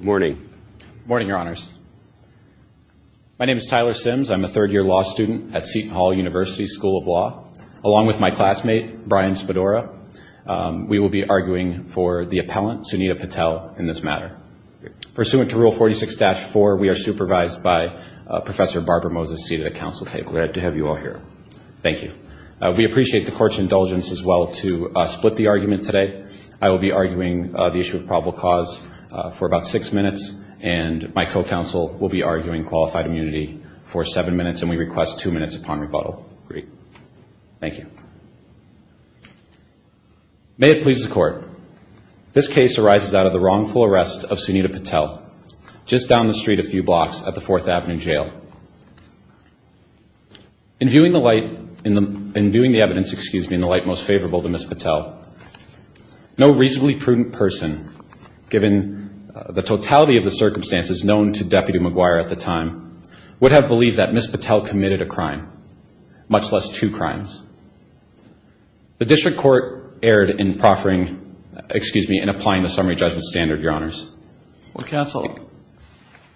Morning. Morning, Your Honors. My name is Tyler Sims. I'm a third-year law student at Seton Hall University School of Law. Along with my classmate, Brian Spadora, we will be arguing for the appellant, Sunita Patel, in this matter. Pursuant to Rule 46-4, we are supervised by Professor Barbara Moses, seated at council table. Glad to have you all here. Thank you. We appreciate the court's indulgence as well to split the argument today. I will be arguing the issue of probable cause for about six minutes, and my co-counsel will be arguing qualified immunity for seven minutes, and we request two minutes upon rebuttal. Agreed. Thank you. May it please the court, this case arises out of the wrongful arrest of Sunita Patel just down the street a few blocks at the Fourth Avenue Jail. In viewing the light, in viewing the evidence, excuse me, in the light most favorable to Ms. Patel, no reasonably prudent person, given the totality of the circumstances known to Deputy McGuire at the time, would have believed that Ms. Patel committed a crime, much less two crimes. The district court erred in proffering, excuse me, in applying the summary judgment standard, Your Honors. Well, counsel,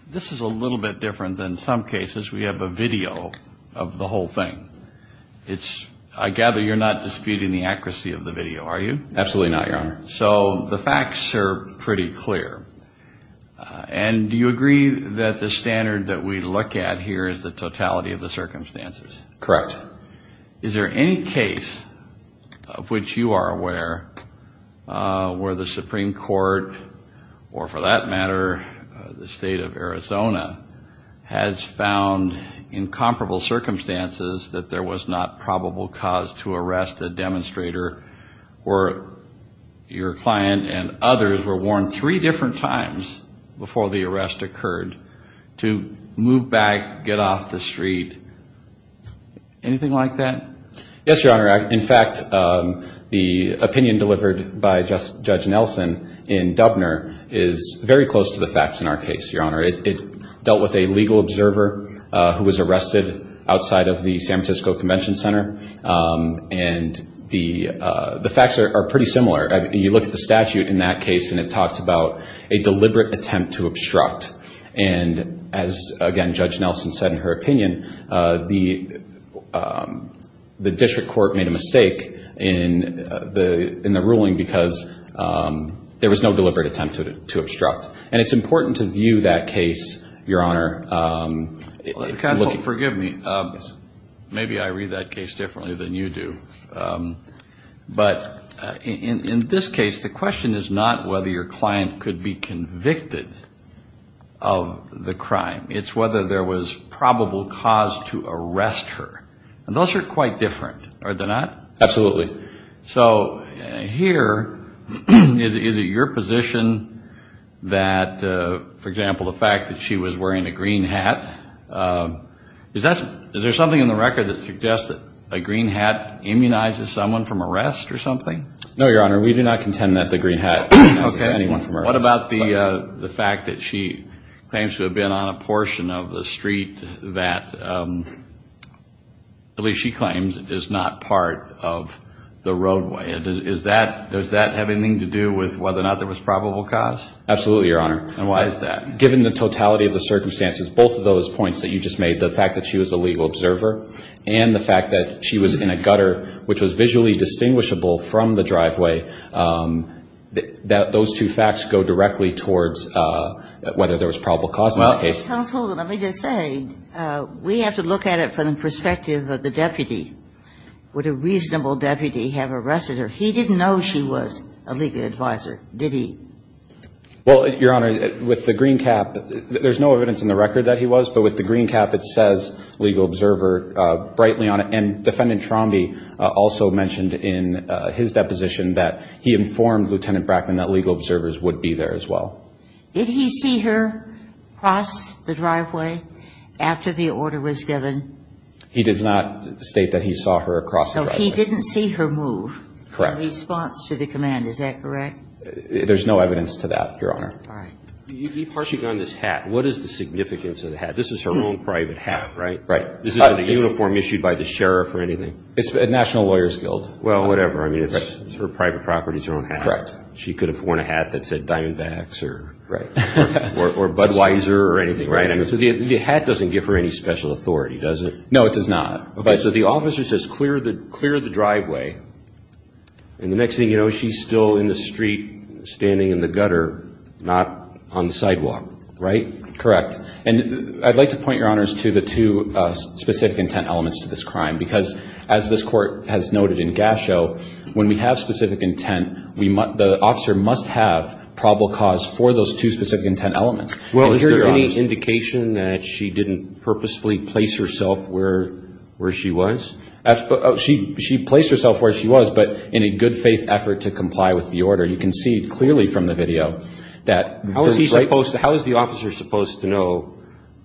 this is a little bit different than some cases. We have a video of the whole thing. It's, I gather you're not disputing the accuracy of the video, are you? Absolutely not, Your Honor. So the facts are pretty clear. And do you agree that the standard that we look at here is the totality of the circumstances? Correct. Is there any case of which you are aware where the Supreme Court, or for that matter the comparable circumstances, that there was not probable cause to arrest a demonstrator where your client and others were warned three different times before the arrest occurred to move back, get off the street? Anything like that? Yes, Your Honor. In fact, the opinion delivered by Judge Nelson in Dubner is very close to the facts in our case, Your Honor. It dealt with a legal observer who was arrested outside of the San Francisco Convention Center. And the facts are pretty similar. You look at the statute in that case, and it talks about a deliberate attempt to obstruct. And as again Judge Nelson said in her opinion, the district court made a mistake in the ruling because there was no deliberate attempt to obstruct. And it's important to view that case, Your Honor. Catholic, forgive me. Maybe I read that case differently than you do. But in this case, the question is not whether your client could be convicted of the crime. It's whether there was probable cause to arrest her. And those are quite different, are they not? Absolutely. Absolutely. So here, is it your position that, for example, the fact that she was wearing a green hat, is there something in the record that suggests that a green hat immunizes someone from arrest or something? No, Your Honor. We do not contend that the green hat immunizes anyone from arrest. What about the fact that she claims to have been on a portion of the street that at least she claims is not part of the roadway? Does that have anything to do with whether or not there was probable cause? Absolutely, Your Honor. And why is that? Given the totality of the circumstances, both of those points that you just made, the fact that she was a legal observer and the fact that she was in a gutter which was visually distinguishable from the driveway, those two facts go directly towards whether there was probable cause in this case. Counsel, let me just say, we have to look at it from the perspective of the deputy. Would a reasonable deputy have arrested her? He didn't know she was a legal advisor, did he? Well, Your Honor, with the green cap, there's no evidence in the record that he was, but with the green cap it says legal observer brightly on it. And Defendant Trombi also mentioned in his deposition that he informed Lieutenant Brackman that legal observers would be there as well. Did he see her cross the driveway after the order was given? He does not state that he saw her cross the driveway. So he didn't see her move in response to the command, is that correct? There's no evidence to that, Your Honor. All right. You keep harshing on this hat. What is the significance of the hat? This is her own private hat, right? Right. This isn't a uniform issued by the sheriff or anything. It's the National Lawyers Guild. Well, whatever. I mean, it's her private property, it's her own hat. Correct. She could have worn a hat that said Diamondbacks or Budweiser or anything, right? So the hat doesn't give her any special authority, does it? No, it does not. Okay. So the officer says clear the driveway. And the next thing you know, she's still in the street standing in the gutter, not on the sidewalk, right? Correct. And I'd like to point, Your Honors, to the two specific intent elements to this the officer must have probable cause for those two specific intent elements. Well, is there any indication that she didn't purposefully place herself where she was? She placed herself where she was, but in a good faith effort to comply with the order. You can see clearly from the video that there's right... How is the officer supposed to know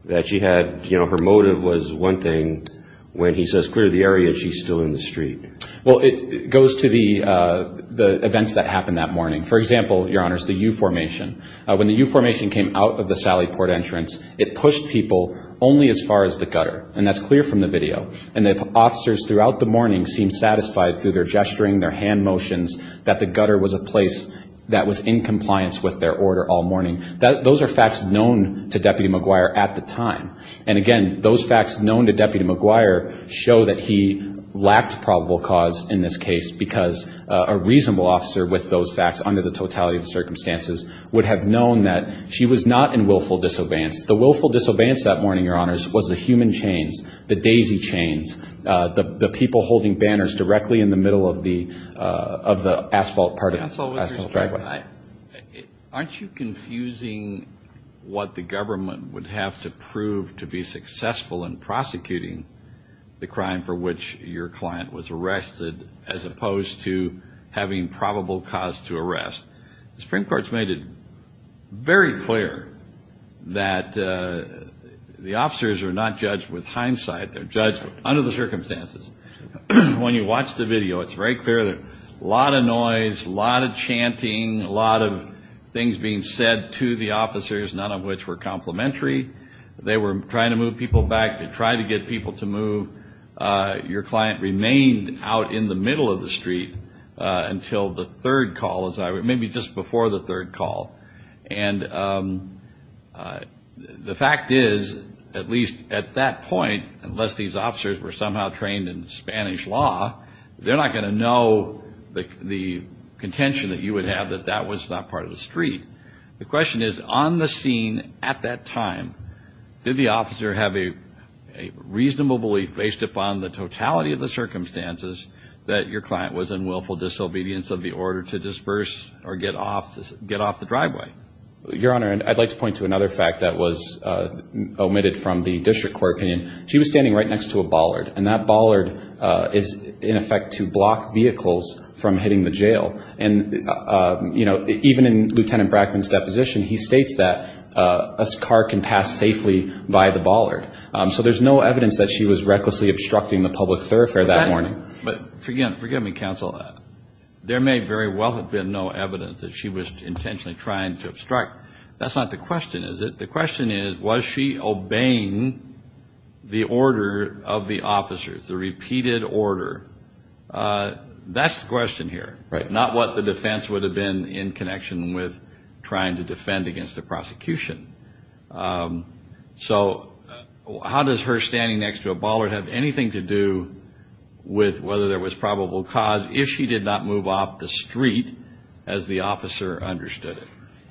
that she had, you know, her motive was one thing when he says clear the area, she's still in the street? Well, it goes to the events that happened that morning. For example, Your Honors, the U-Formation. When the U-Formation came out of the Sally Port entrance, it pushed people only as far as the gutter. And that's clear from the video. And the officers throughout the morning seemed satisfied through their gesturing, their hand motions, that the gutter was a place that was in compliance with their order all morning. Those are facts known to Deputy McGuire at the time. And again, those facts known to Deputy McGuire show that he lacked probable cause in this case, because a reasonable officer with those facts under the totality of the circumstances would have known that she was not in willful disobedience. The willful disobedience that morning, Your Honors, was the human chains, the daisy chains, the people holding banners directly in the middle of the asphalt part of the asphalt driveway. Counsel, aren't you confusing what the government would have to prove to be successful in prosecuting the crime for which your client was arrested, as opposed to having probable cause to arrest? The Supreme Court's made it very clear that the officers are not judged with hindsight. They're judged under the circumstances. When you watch the video, it's very clear, a lot of noise, a lot of chanting, a lot of things being said to the officers, none of which were complimentary. They were trying to move people back, to try to get people to move. Your client remained out in the middle of the street until the third call, maybe just before the third call. And the fact is, at least at that point, unless these officers were somehow trained in Spanish law, they're not going to know the contention that you would have that that was not part of the street. The question is, on the scene at that time, did the officer have a reasonable belief, based upon the totality of the circumstances, that your client was in willful disobedience of the order to disperse or get off the driveway? Your Honor, I'd like to point to another fact that was omitted from the district court opinion. She was standing right next to a bollard. And that bollard is, in effect, to block vehicles from hitting the jail. And, you know, even in Lieutenant Brackman's deposition, he states that a car can pass safely by the bollard. So there's no evidence that she was recklessly obstructing the public thoroughfare that morning. But forgive me, counsel, there may very well have been no evidence that she was intentionally trying to obstruct. That's not the question, is it? The question is, was she obeying the officers, the repeated order? That's the question here. Not what the defense would have been in connection with trying to defend against the prosecution. So how does her standing next to a bollard have anything to do with whether there was probable cause if she did not move off the street as the officer understood it?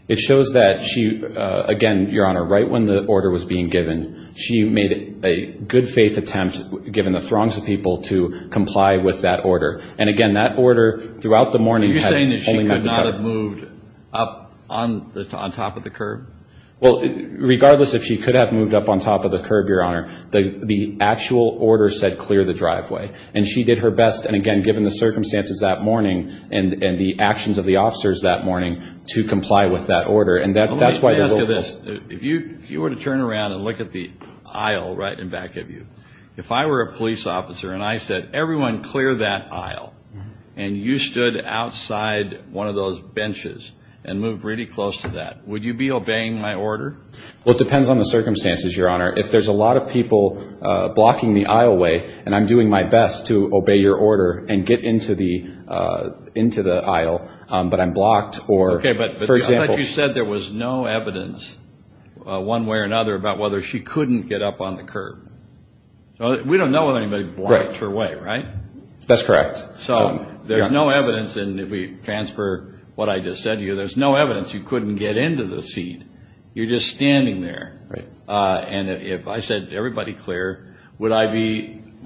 It shows that she, again, Your Honor, right when the order was being given, she made a good-faith attempt, given the throngs of people, to comply with that order. And, again, that order, throughout the morning, had only meant to cover... Are you saying that she could not have moved up on top of the curb? Well, regardless if she could have moved up on top of the curb, Your Honor, the actual order said clear the driveway. And she did her best, and again, given the circumstances that morning and the actions of the officers that morning, to comply with that order. And that's why the local... If I were a police officer and I said, everyone clear that aisle, and you stood outside one of those benches and moved really close to that, would you be obeying my order? Well, it depends on the circumstances, Your Honor. If there's a lot of people blocking the aisleway, and I'm doing my best to obey your order and get into the aisle, but I'm blocked or, for example... Okay, but I thought you said there was no evidence, one way or another, about whether she couldn't get up on the curb. We don't know if anybody blocked her way, right? That's correct. So there's no evidence, and if we transfer what I just said to you, there's no evidence you couldn't get into the seat. You're just standing there. And if I said, everybody clear, would I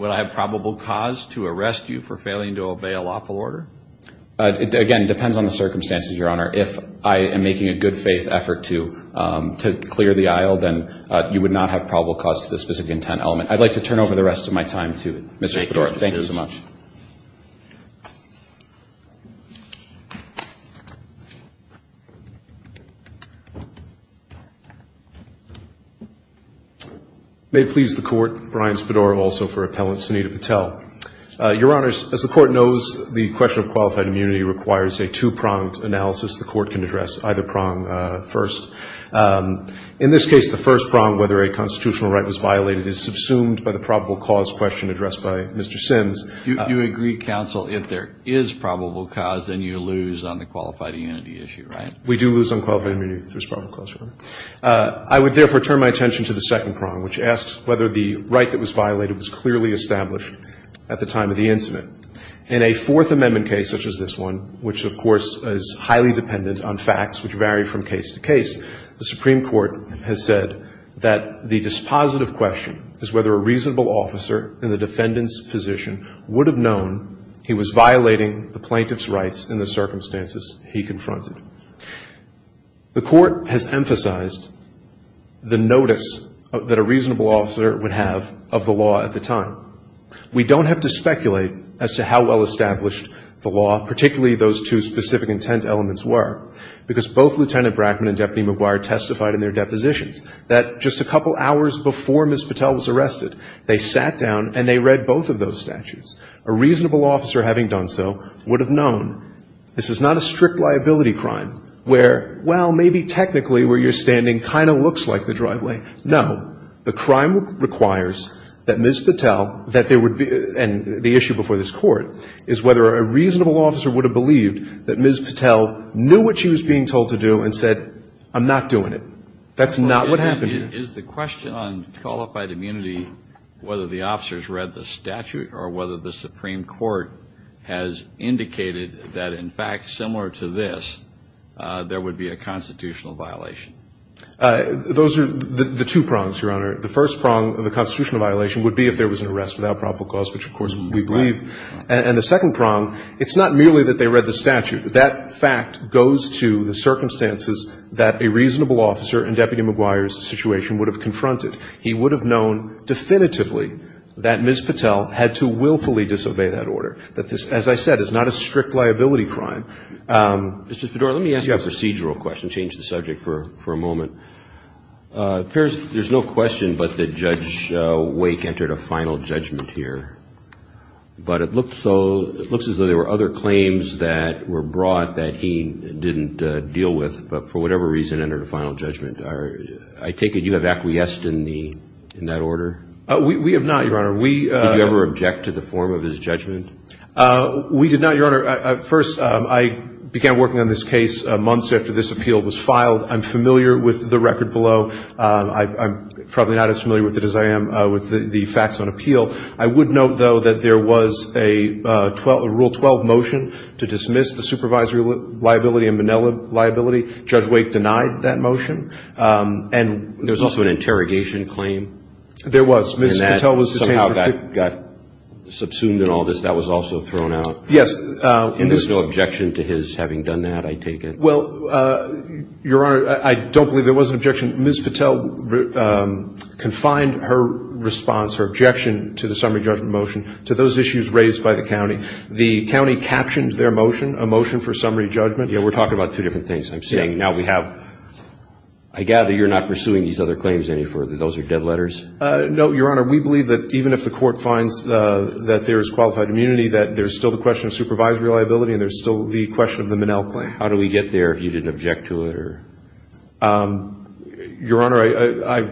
have probable cause to arrest you for failing to obey a lawful order? Again, it depends on the circumstances, Your Honor. If I am making a good faith effort to clear the aisle, then you would not have probable cause to this specific intent element. I'd like to turn over the rest of my time to Mr. Spadoro. Thank you so much. May it please the Court, Brian Spadoro, also for appellant Sunita Patel. Your Honors, as the Court knows, the question of qualified immunity requires a two-pronged analysis the Court can address, either prong first. In this case, the first prong, whether a constitutional right was violated, is subsumed by the probable cause question addressed by Mr. Sims. You agree, counsel, if there is probable cause, then you lose on the qualified immunity issue, right? We do lose on qualified immunity if there's probable cause, Your Honor. I would therefore turn my attention to the second prong, which asks whether the right that was violated was clearly established at the time of the incident. In a Fourth Amendment case such as this one, which of course is highly dependent on facts which vary from case to case, the Supreme Court has said that the dispositive question is whether a reasonable officer in the defendant's position would have known he was violating the plaintiff's rights in the circumstances he confronted. The Court has emphasized the notice that a reasonable officer would have of the law at the time. We don't have to speculate as to how well established the law, particularly those two specific intent elements were, because both Lieutenant Brackman and Deputy McGuire testified in their depositions that just a couple hours before Ms. Patel was arrested, they sat down and they read both of those statutes. A reasonable officer having done so would have known. This is not a strict liability crime where, well, maybe technically where you're standing kind of looks like the driveway. No. The crime requires that Ms. Patel, that there would be, and the issue before this Court, is whether a reasonable officer would have believed that Ms. Patel knew what she was being told to do and said, I'm not doing it. That's not what happened here. Is the question on qualified immunity whether the officers read the statute or whether the Supreme Court has indicated that, in fact, similar to this, there would be a constitutional violation? Those are the two prongs, Your Honor. The first prong, the constitutional violation, would be if there was an arrest without probable cause, which, of course, we believe. And the second prong, it's not merely that they read the statute. That fact goes to the circumstances that a reasonable officer in Deputy McGuire's situation would have confronted. He would have known definitively that Ms. Patel had to willfully disobey that order, that this, as I said, is not a strict liability crime. Mr. Fedora, let me ask you a procedural question, change the subject for a moment. There's no question but that Judge Wake entered a final judgment here. But it looks as though there were other claims that were brought that he didn't deal with, but for whatever reason entered a final judgment. I take it you have acquiesced in that order? We have not, Your Honor. Did you ever object to the form of his judgment? We did not, Your Honor. First, I began working on this case months after this appeal was filed. I'm familiar with the record below. I'm probably not as familiar with it as I am with the facts on appeal. I would note, though, that there was a Rule 12 motion to dismiss the supervisory liability and Manila liability. Judge Wake denied that motion. And there was also an interrogation claim? There was. Ms. Patel was detained for 15 years. Somehow that got subsumed and all this. That was also thrown out? Yes. And there's no objection to his having done that, I take it? Well, Your Honor, I don't believe there was an objection. Ms. Patel confined her response, her objection to the summary judgment motion to those issues raised by the county. The county captioned their motion, a motion for summary judgment. Yeah, we're talking about two different things. I'm saying now we have – I gather you're not pursuing these other claims any further. Those are dead letters? No, Your Honor. We believe that even if the court finds that there is qualified immunity, that there's still the question of supervisory liability and there's still the question of the Manila claim. How do we get there if you didn't object to it or? Your Honor, I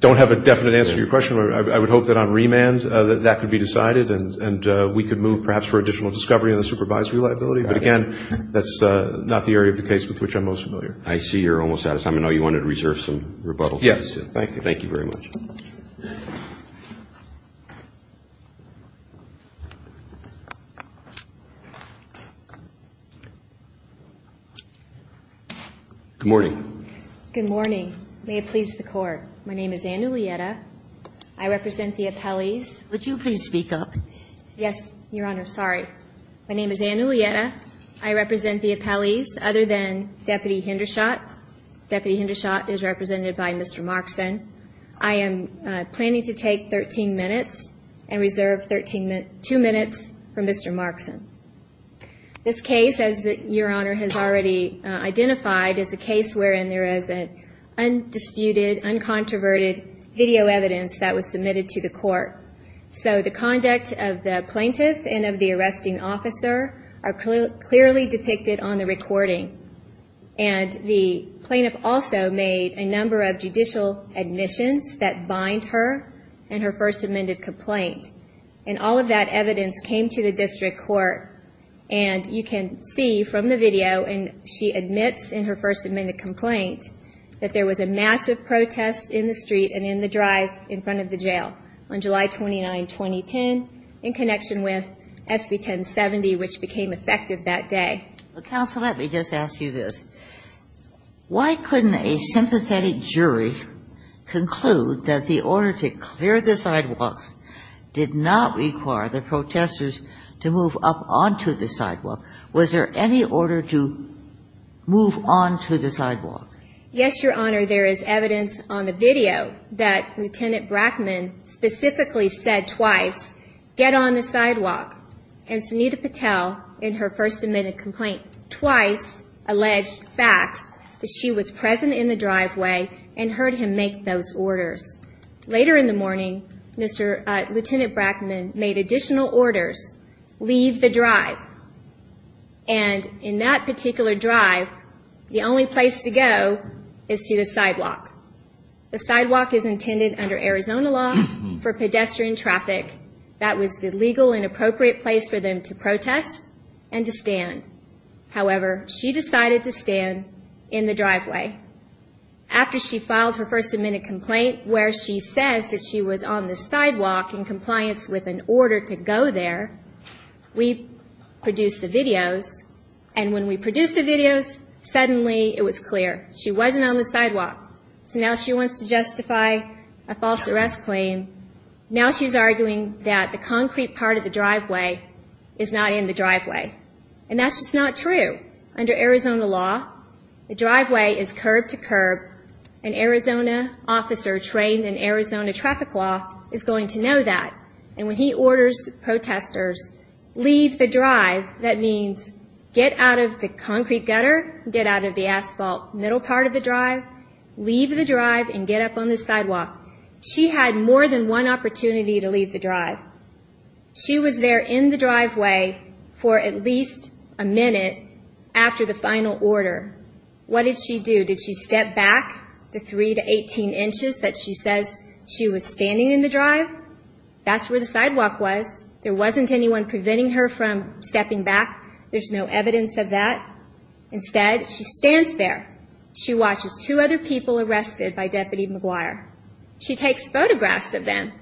don't have a definite answer to your question. I would hope that on remand that could be decided and we could move perhaps for additional discovery on the supervisory liability. But again, that's not the area of the case with which I'm most familiar. I see you're almost out of time. I know you wanted to reserve some rebuttal. Yes. Thank you. Thank you very much. Good morning. Good morning. May it please the Court. My name is Anne Ulietta. I represent the appellees. Would you please speak up? Yes, Your Honor. Sorry. My name is Anne Ulietta. I represent the appellees other than Deputy Hindershot. Deputy Hindershot is represented by Mr. Markson. I am planning to take 13 minutes and reserve two minutes for Mr. Markson. This case, as Your Honor has already identified, is a case wherein there is undisputed, uncontroverted video evidence that was submitted to the Court. So the conduct of the plaintiff and of the arresting officer are clearly depicted on the recording. And the plaintiff also made a number of judicial admissions that bind her and her First Amendment complaint. And all of that evidence came to the district court. And you can see from the video, and she admits in her First Amendment complaint, that there was a massive protest in the street and in the drive in front of the jail on July 29, 2010, in connection with SB 1070, which became effective that day. Counsel, let me just ask you this. Why couldn't a sympathetic jury conclude that the order to clear the sidewalks did not require the protesters to move up onto the sidewalk? Was there any order to move onto the sidewalk? Yes, Your Honor. There is evidence on the video that Lieutenant Brackman specifically said twice, get on the sidewalk. And Sunita Patel, in her First Amendment complaint, twice alleged facts that she was present in the driveway and heard him make those statements. Later in the morning, Lieutenant Brackman made additional orders, leave the drive. And in that particular drive, the only place to go is to the sidewalk. The sidewalk is intended under Arizona law for pedestrian traffic. That was the legal and appropriate place for them to protest and to stand. However, she decided to stand in the driveway. After she filed her First Amendment complaint where she says that she was on the sidewalk in compliance with an order to go there, we produced the videos. And when we produced the videos, suddenly it was clear. She wasn't on the sidewalk. So now she wants to justify a false arrest claim. Now she's arguing that the concrete part of the driveway is not in the driveway. And that's just not true. Under Arizona law, the driveway is curb to curb. An Arizona officer trained in Arizona traffic law is going to know that. And when he orders protesters, leave the drive, that means get out of the concrete gutter, get out of the asphalt middle part of the drive, leave the drive and get up on the sidewalk. She had more than one opportunity to leave the drive. She was there in the driveway for at least a minute after the final order. What did she do? Did she step back the 3 to 18 inches that she says she was standing in the drive? That's where the sidewalk was. There wasn't anyone preventing her from stepping back. There's no evidence of that. Instead, she stands there. She watches two other people arrested by Deputy McGuire. She takes photographs of them.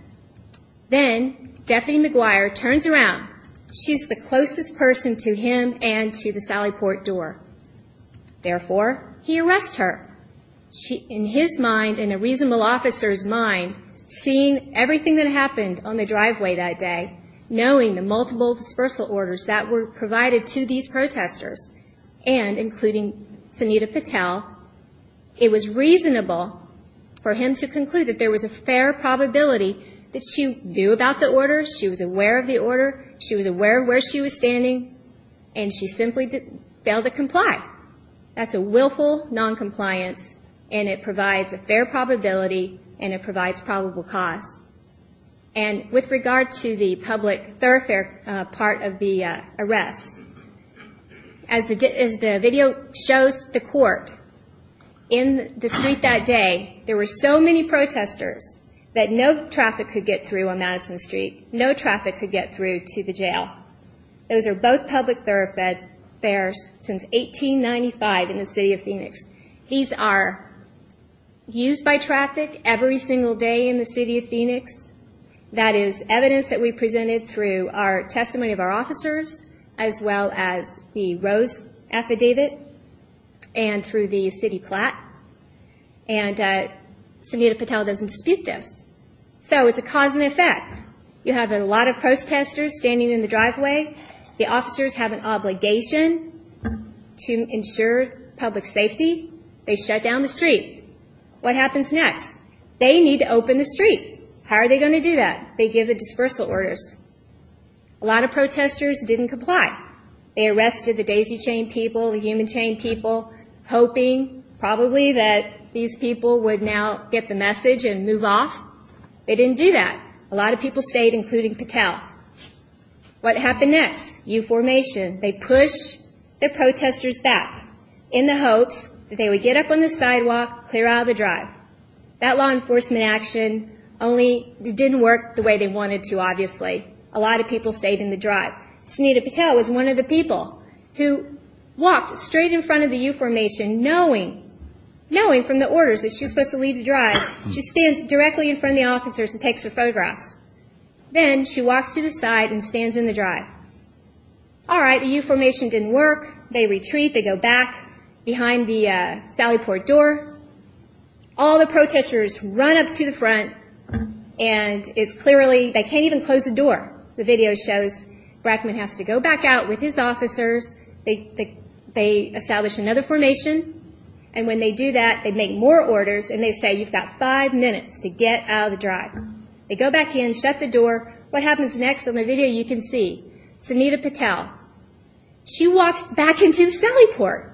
Then Deputy McGuire turns around. She's the closest person to him and to the Sally Port door. Therefore, he arrests her. In his mind, in a reasonable officer's mind, seeing everything that happened on the driveway that day, knowing the multiple dispersal orders that were provided to these protesters and including Sunita Patel, it was reasonable for him to conclude that there was a fair probability that she knew about the order, she was aware of the order, she was aware of where she was standing, and she simply failed to comply. That's a willful noncompliance and it provides a fair probability and it provides probable cause. And with regard to the public thoroughfare part of the arrest, as the video shows the court, in the street that day, there were so many protesters that no traffic could get through on Madison Street. No traffic could get through to the jail. Those are both public thoroughfares since 1895 in the city of Phoenix. These are used by traffic every single day in the city of Phoenix. That is evidence that we presented through our testimony of our officers as well as the Rose affidavit and through the city plat. And Sunita Patel doesn't dispute this. So it's a cause and effect. You have a lot of protesters standing in the driveway. The officers have an obligation to ensure public safety. They shut down the street. What happens next? They need to open the street. How are they going to do that? They give the dispersal orders. A lot of protesters didn't comply. They arrested the daisy chain people, the human chain people, hoping probably that these people would now get the message and move off. They didn't do that. A lot of people stayed, including Patel. What happened next? U-Formation. They push the protesters back in the hopes that they would get up on the sidewalk, clear out of the drive. That law enforcement action only didn't work the way they wanted to, obviously. A lot of people stayed in the drive. Sunita Patel was one of the people who walked straight in front of the U-Formation knowing, from the orders, that she was supposed to leave the drive. She stands directly in front of the officers and takes her photographs. Then she walks to the side and stands in the drive. All right, the U-Formation didn't work. They retreat. They go back behind the Sally Port door. All the protesters run up to the front, and it's clearly, they can't even close the door. The video shows Brackman has to go back out with his officers. They establish another formation. And when they do that, they make more orders, and they say, you've got five minutes to get out of the drive. They go back in, shut the door. What happens next on the video, you can see. Sunita Patel. She walks back into the Sally Port.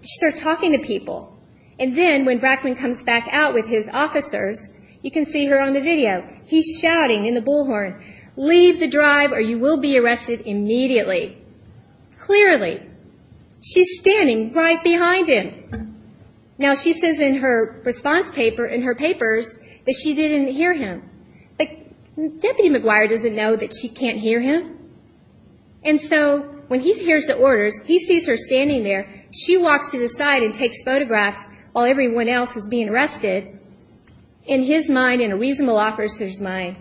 She starts talking to people. And then when Brackman comes back out with his officers, you can see her on the video. He's shouting in the bullhorn, leave the drive or you will be arrested immediately. Clearly. She's standing right behind him. Now she says in her response paper, in her papers, that she didn't hear him. But Deputy McGuire doesn't know that she can't hear him. And so when he hears the orders, he sees her standing there. She walks to the side and takes photographs while everyone else is being arrested. In his mind, in a reasonable officer's mind,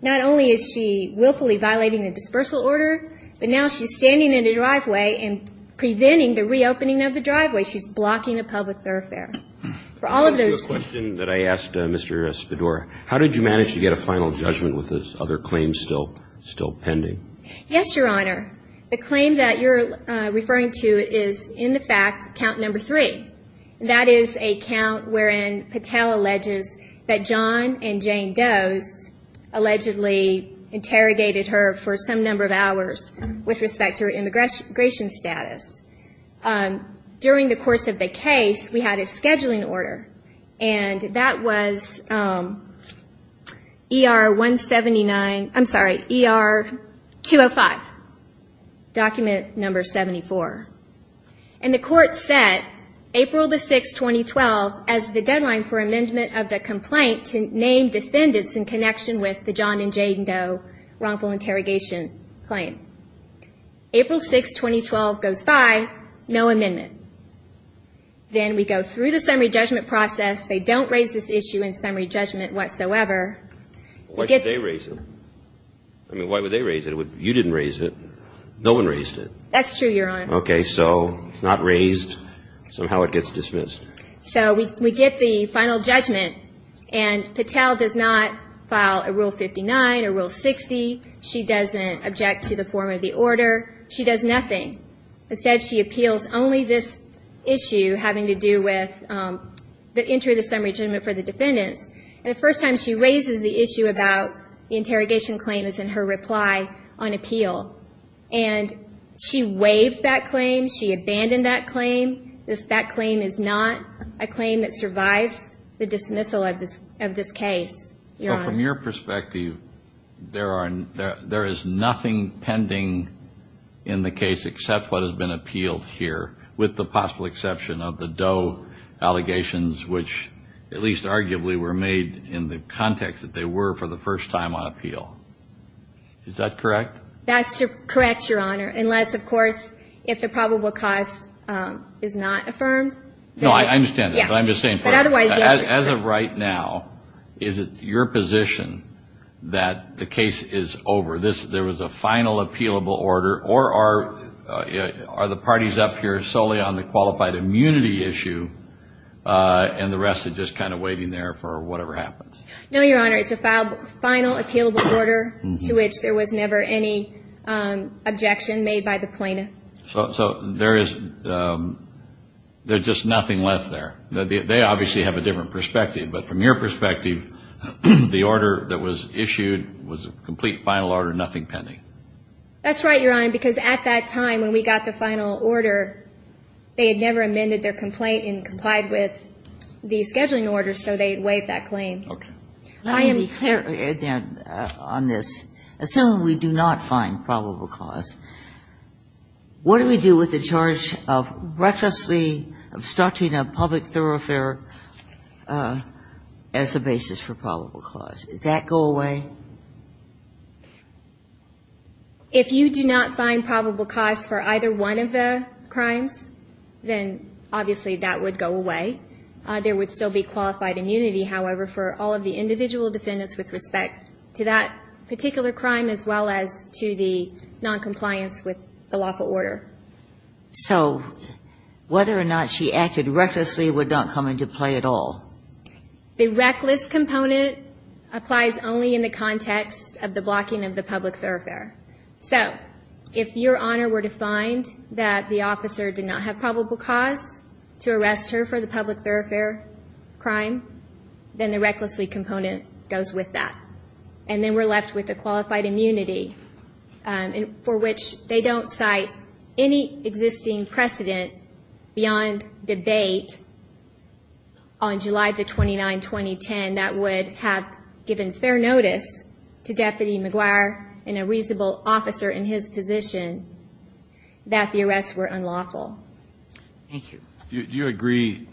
not only is she willfully violating the dispersal order, but now she's standing in the driveway and preventing the reopening of the driveway. She's blocking a public thoroughfare. How did you manage to get a final judgment with this other claim still pending? Yes, Your Honor. The claim that you're referring to is in the fact count number three. That is a count wherein Patel alleges that John and Jane Doe's allegedly interrogated her for some number of hours with respect to her immigration status. During the course of the case, we had a scheduling order. And that was ER 179, I'm sorry, ER 205, document number 74. And the court set April 6, 2012 as the deadline for amendment of the complaint to name defendants in connection with the John and Jane Doe wrongful interrogation claim. April 6, 2012 goes by, no amendment. Then we go through the summary judgment process. They don't raise this issue in summary judgment whatsoever. Why should they raise it? I mean, why would they raise it? You didn't raise it. No one raised it. That's true, Your Honor. Okay. So it's not raised. Somehow it gets dismissed. So we get the final judgment. And Patel does not file a Rule 59 or Rule 60. She doesn't object to the form of the order. She does nothing. Instead, she appeals only this issue having to do with the entry of the summary judgment for the defendants. And the first time she raises the issue about the interrogation claim is in her reply on appeal. And she waived that claim. She abandoned that claim. That claim is not a claim that survives the dismissal of this case, Your Honor. Well, from your perspective, there is nothing pending in the case except what has been appealed here, with the possible exception of the Doe allegations, which at least arguably were made in the context that they were for the first time on appeal. Is that correct? That's correct, Your Honor. Unless, of course, if the probable cause is not affirmed. No, I understand that. But I'm just saying, as of right now, is it your position that the case is over? There was a final appealable order? Or are the parties up here solely on the qualified immunity issue and the rest is just kind of waiting there for whatever happens? No, Your Honor. It's a final appealable order to which there was never any objection made by the plaintiff. So there is just nothing left there. They obviously have a different perspective. But from your perspective, the order that was issued was a complete final order, nothing pending. That's right, Your Honor, because at that time when we got the final order, they had never amended their complaint and complied with the scheduling order, so they waived that claim. Okay. Let me be clear on this. Assuming we do not find probable cause, what do we do with the charge of recklessly obstructing a public thoroughfare as the basis for probable cause? Does that go away? If you do not find probable cause for either one of the crimes, then obviously that would go away. There would still be qualified immunity, however, for all of the individual defendants with respect to that particular crime as well as to the noncompliance with the lawful order. So whether or not she acted recklessly would not come into play at all? The reckless component applies only in the context of the blocking of the public thoroughfare. So if, Your Honor, we're to find that the officer did not have probable cause to arrest her for the public thoroughfare crime, then the recklessly component goes with that. And then we're left with the qualified immunity for which they don't cite any existing precedent beyond debate on July the 29th, 2010, that would have given fair notice to Deputy McGuire and a reasonable officer in his position that the arrests were unlawful. Thank you. Do you agree,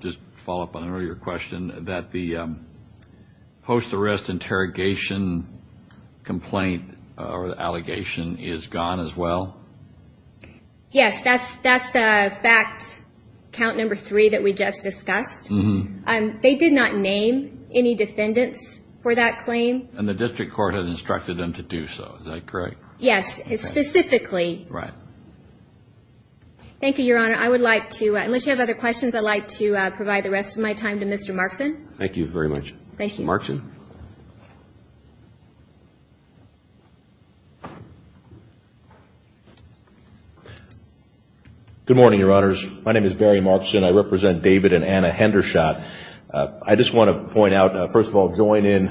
just to follow up on an earlier question, that the post-arrest interrogation complaint or the allegation is gone as well? Yes, that's the fact, count number three, that we just discussed. They did not name any defendants for that claim. And the district court had instructed them to do so. Is that correct? Yes, specifically. Thank you, Your Honor. I would like to, unless you have other questions, I'd like to provide the rest of my time to Mr. Markson. Good morning, Your Honors. My name is Barry Markson. I represent David and Anna Hendershot. I just want to point out, first of all, join in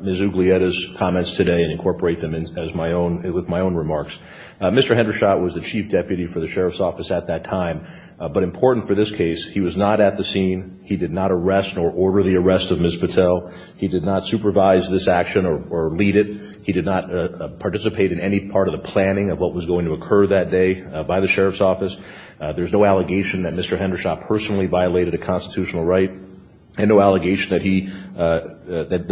Ms. Uglietta's comments today and incorporate them with my own remarks. Mr. Hendershot was the Chief Deputy for the Sheriff's Office at that time. But important for this case, he was not at the scene. He did not arrest or order the arrest of Ms. Patel. He did not supervise this action or lead it. He did not participate in any part of the planning of what was going to occur that day by the Sheriff's Office. There's no allegation that Mr. Hendershot personally violated a constitutional right, and no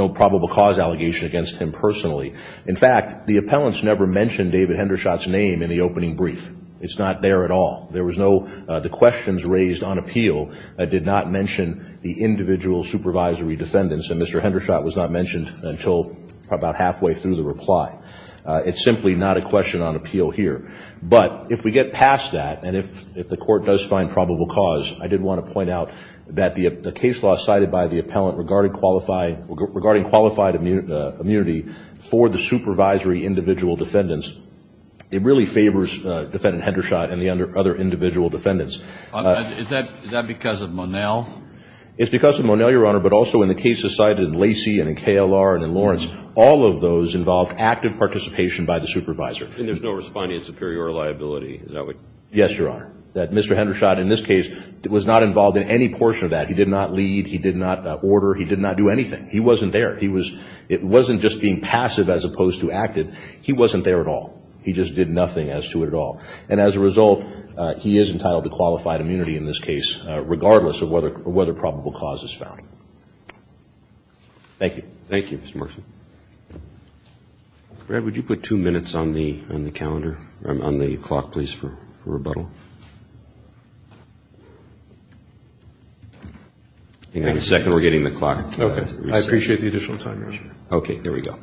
probable cause allegation against him personally. In fact, the appellants never mentioned David Hendershot's name in the opening brief. It's not there at all. The questions raised on appeal did not mention the individual supervisory defendants, and Mr. Hendershot was not mentioned until about halfway through the reply. It's simply not a question on appeal here. But if we get past that, and if the Court does find probable cause, I did want to point out that the case law cited by the appellant regarding qualified immunity for the supervisory individual defendants, it really favors Defendant Hendershot and the other individual defendants. Is that because of Monell? It's because of Monell, Your Honor, but also in the cases cited in Lacey and in KLR and in Lawrence, all of those involved active participation by the supervisor. And there's no responding in superior liability, is that what you're saying? No, he just did nothing as to it at all. And as a result, he is entitled to qualified immunity in this case, regardless of whether probable cause is found. Thank you. Thank you, Mr. Merson. Brad, would you put two minutes on the calendar, on the clock, please, for rebuttal? Hang on a second, we're getting the clock. I appreciate the additional time, Your Honor. Okay, there we go.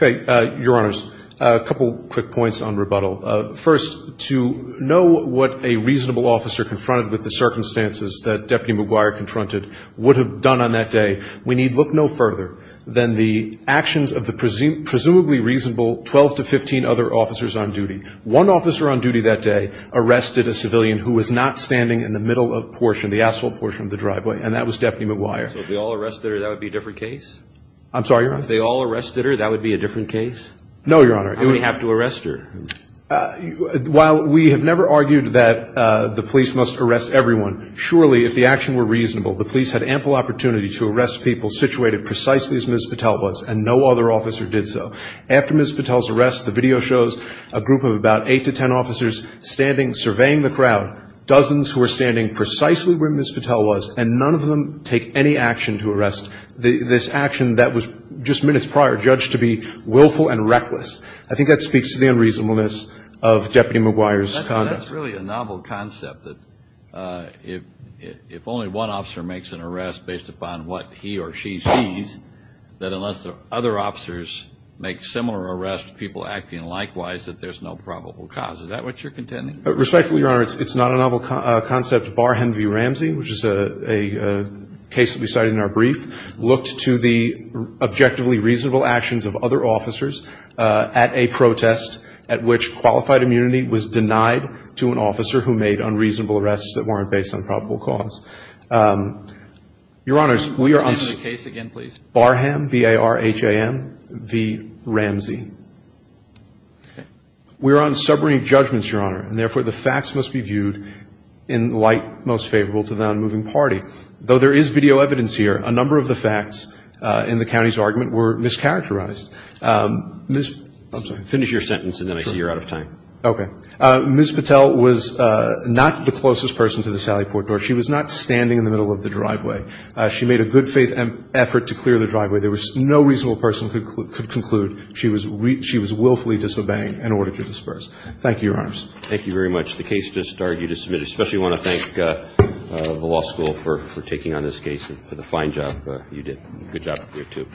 Okay, Your Honors, a couple quick points on rebuttal. First, to know what a reasonable officer confronted with the circumstances that Deputy McGuire confronted would have done on that day, we need look no further than the actions of the presumably reasonable 12 to 15 other officers on duty. One officer on duty that day arrested a civilian who was not standing in the middle portion, the asphalt portion of the driveway, and that was Deputy McGuire. So if they all arrested her, that would be a different case? I'm sorry, Your Honor? If they all arrested her, that would be a different case? No, Your Honor. How would he have to arrest her? While we have never argued that the police must arrest everyone, surely if the action were reasonable, the police had ample opportunity to arrest people situated precisely as Ms. Patel was, and no other officer did so. After Ms. Patel's arrest, the video shows a group of about 8 to 10 officers standing, surveying the crowd, dozens who were standing precisely where Ms. Patel was, and none of them take any action to arrest. This action that was just minutes prior judged to be willful and reckless. I think that speaks to the unreasonableness of Deputy McGuire's conduct. That's really a novel concept, that if only one officer makes an arrest based upon what he or she sees, that unless other officers make similar arrests, people acting likewise, that there's no probable cause. Is that what you're contending? Respectfully, Your Honor, it's not a novel concept, bar Henry V. Ramsey, which is a case that we cited in our brief, looked to the objectively reasonable actions of other officers at a protest at which qualified immunity was denied to an officer who made unreasonable arrests that weren't based on probable cause. Your Honors, we are on this case. Can you name the case again, please? Barham, B-A-R-H-A-M, V. Ramsey. We are on sobering judgments, Your Honor, and therefore the facts must be viewed in light most favorable to the non-moving party. Though there is video evidence here, a number of the facts in the county's argument were mischaracterized. Ms. I'm sorry. Finish your sentence and then I see you're out of time. Sure. Okay. Ms. Patel was not the closest person to the Sally Port Door. She was not standing in the middle of the driveway. She made a good faith effort to clear the driveway. There was no reasonable person who could conclude she was willfully disobeying in order to disperse. Thank you, Your Honors. Thank you very much. The case just argued is submitted. I especially want to thank the law school for taking on this case and for the fine job you did. Good job up here, too.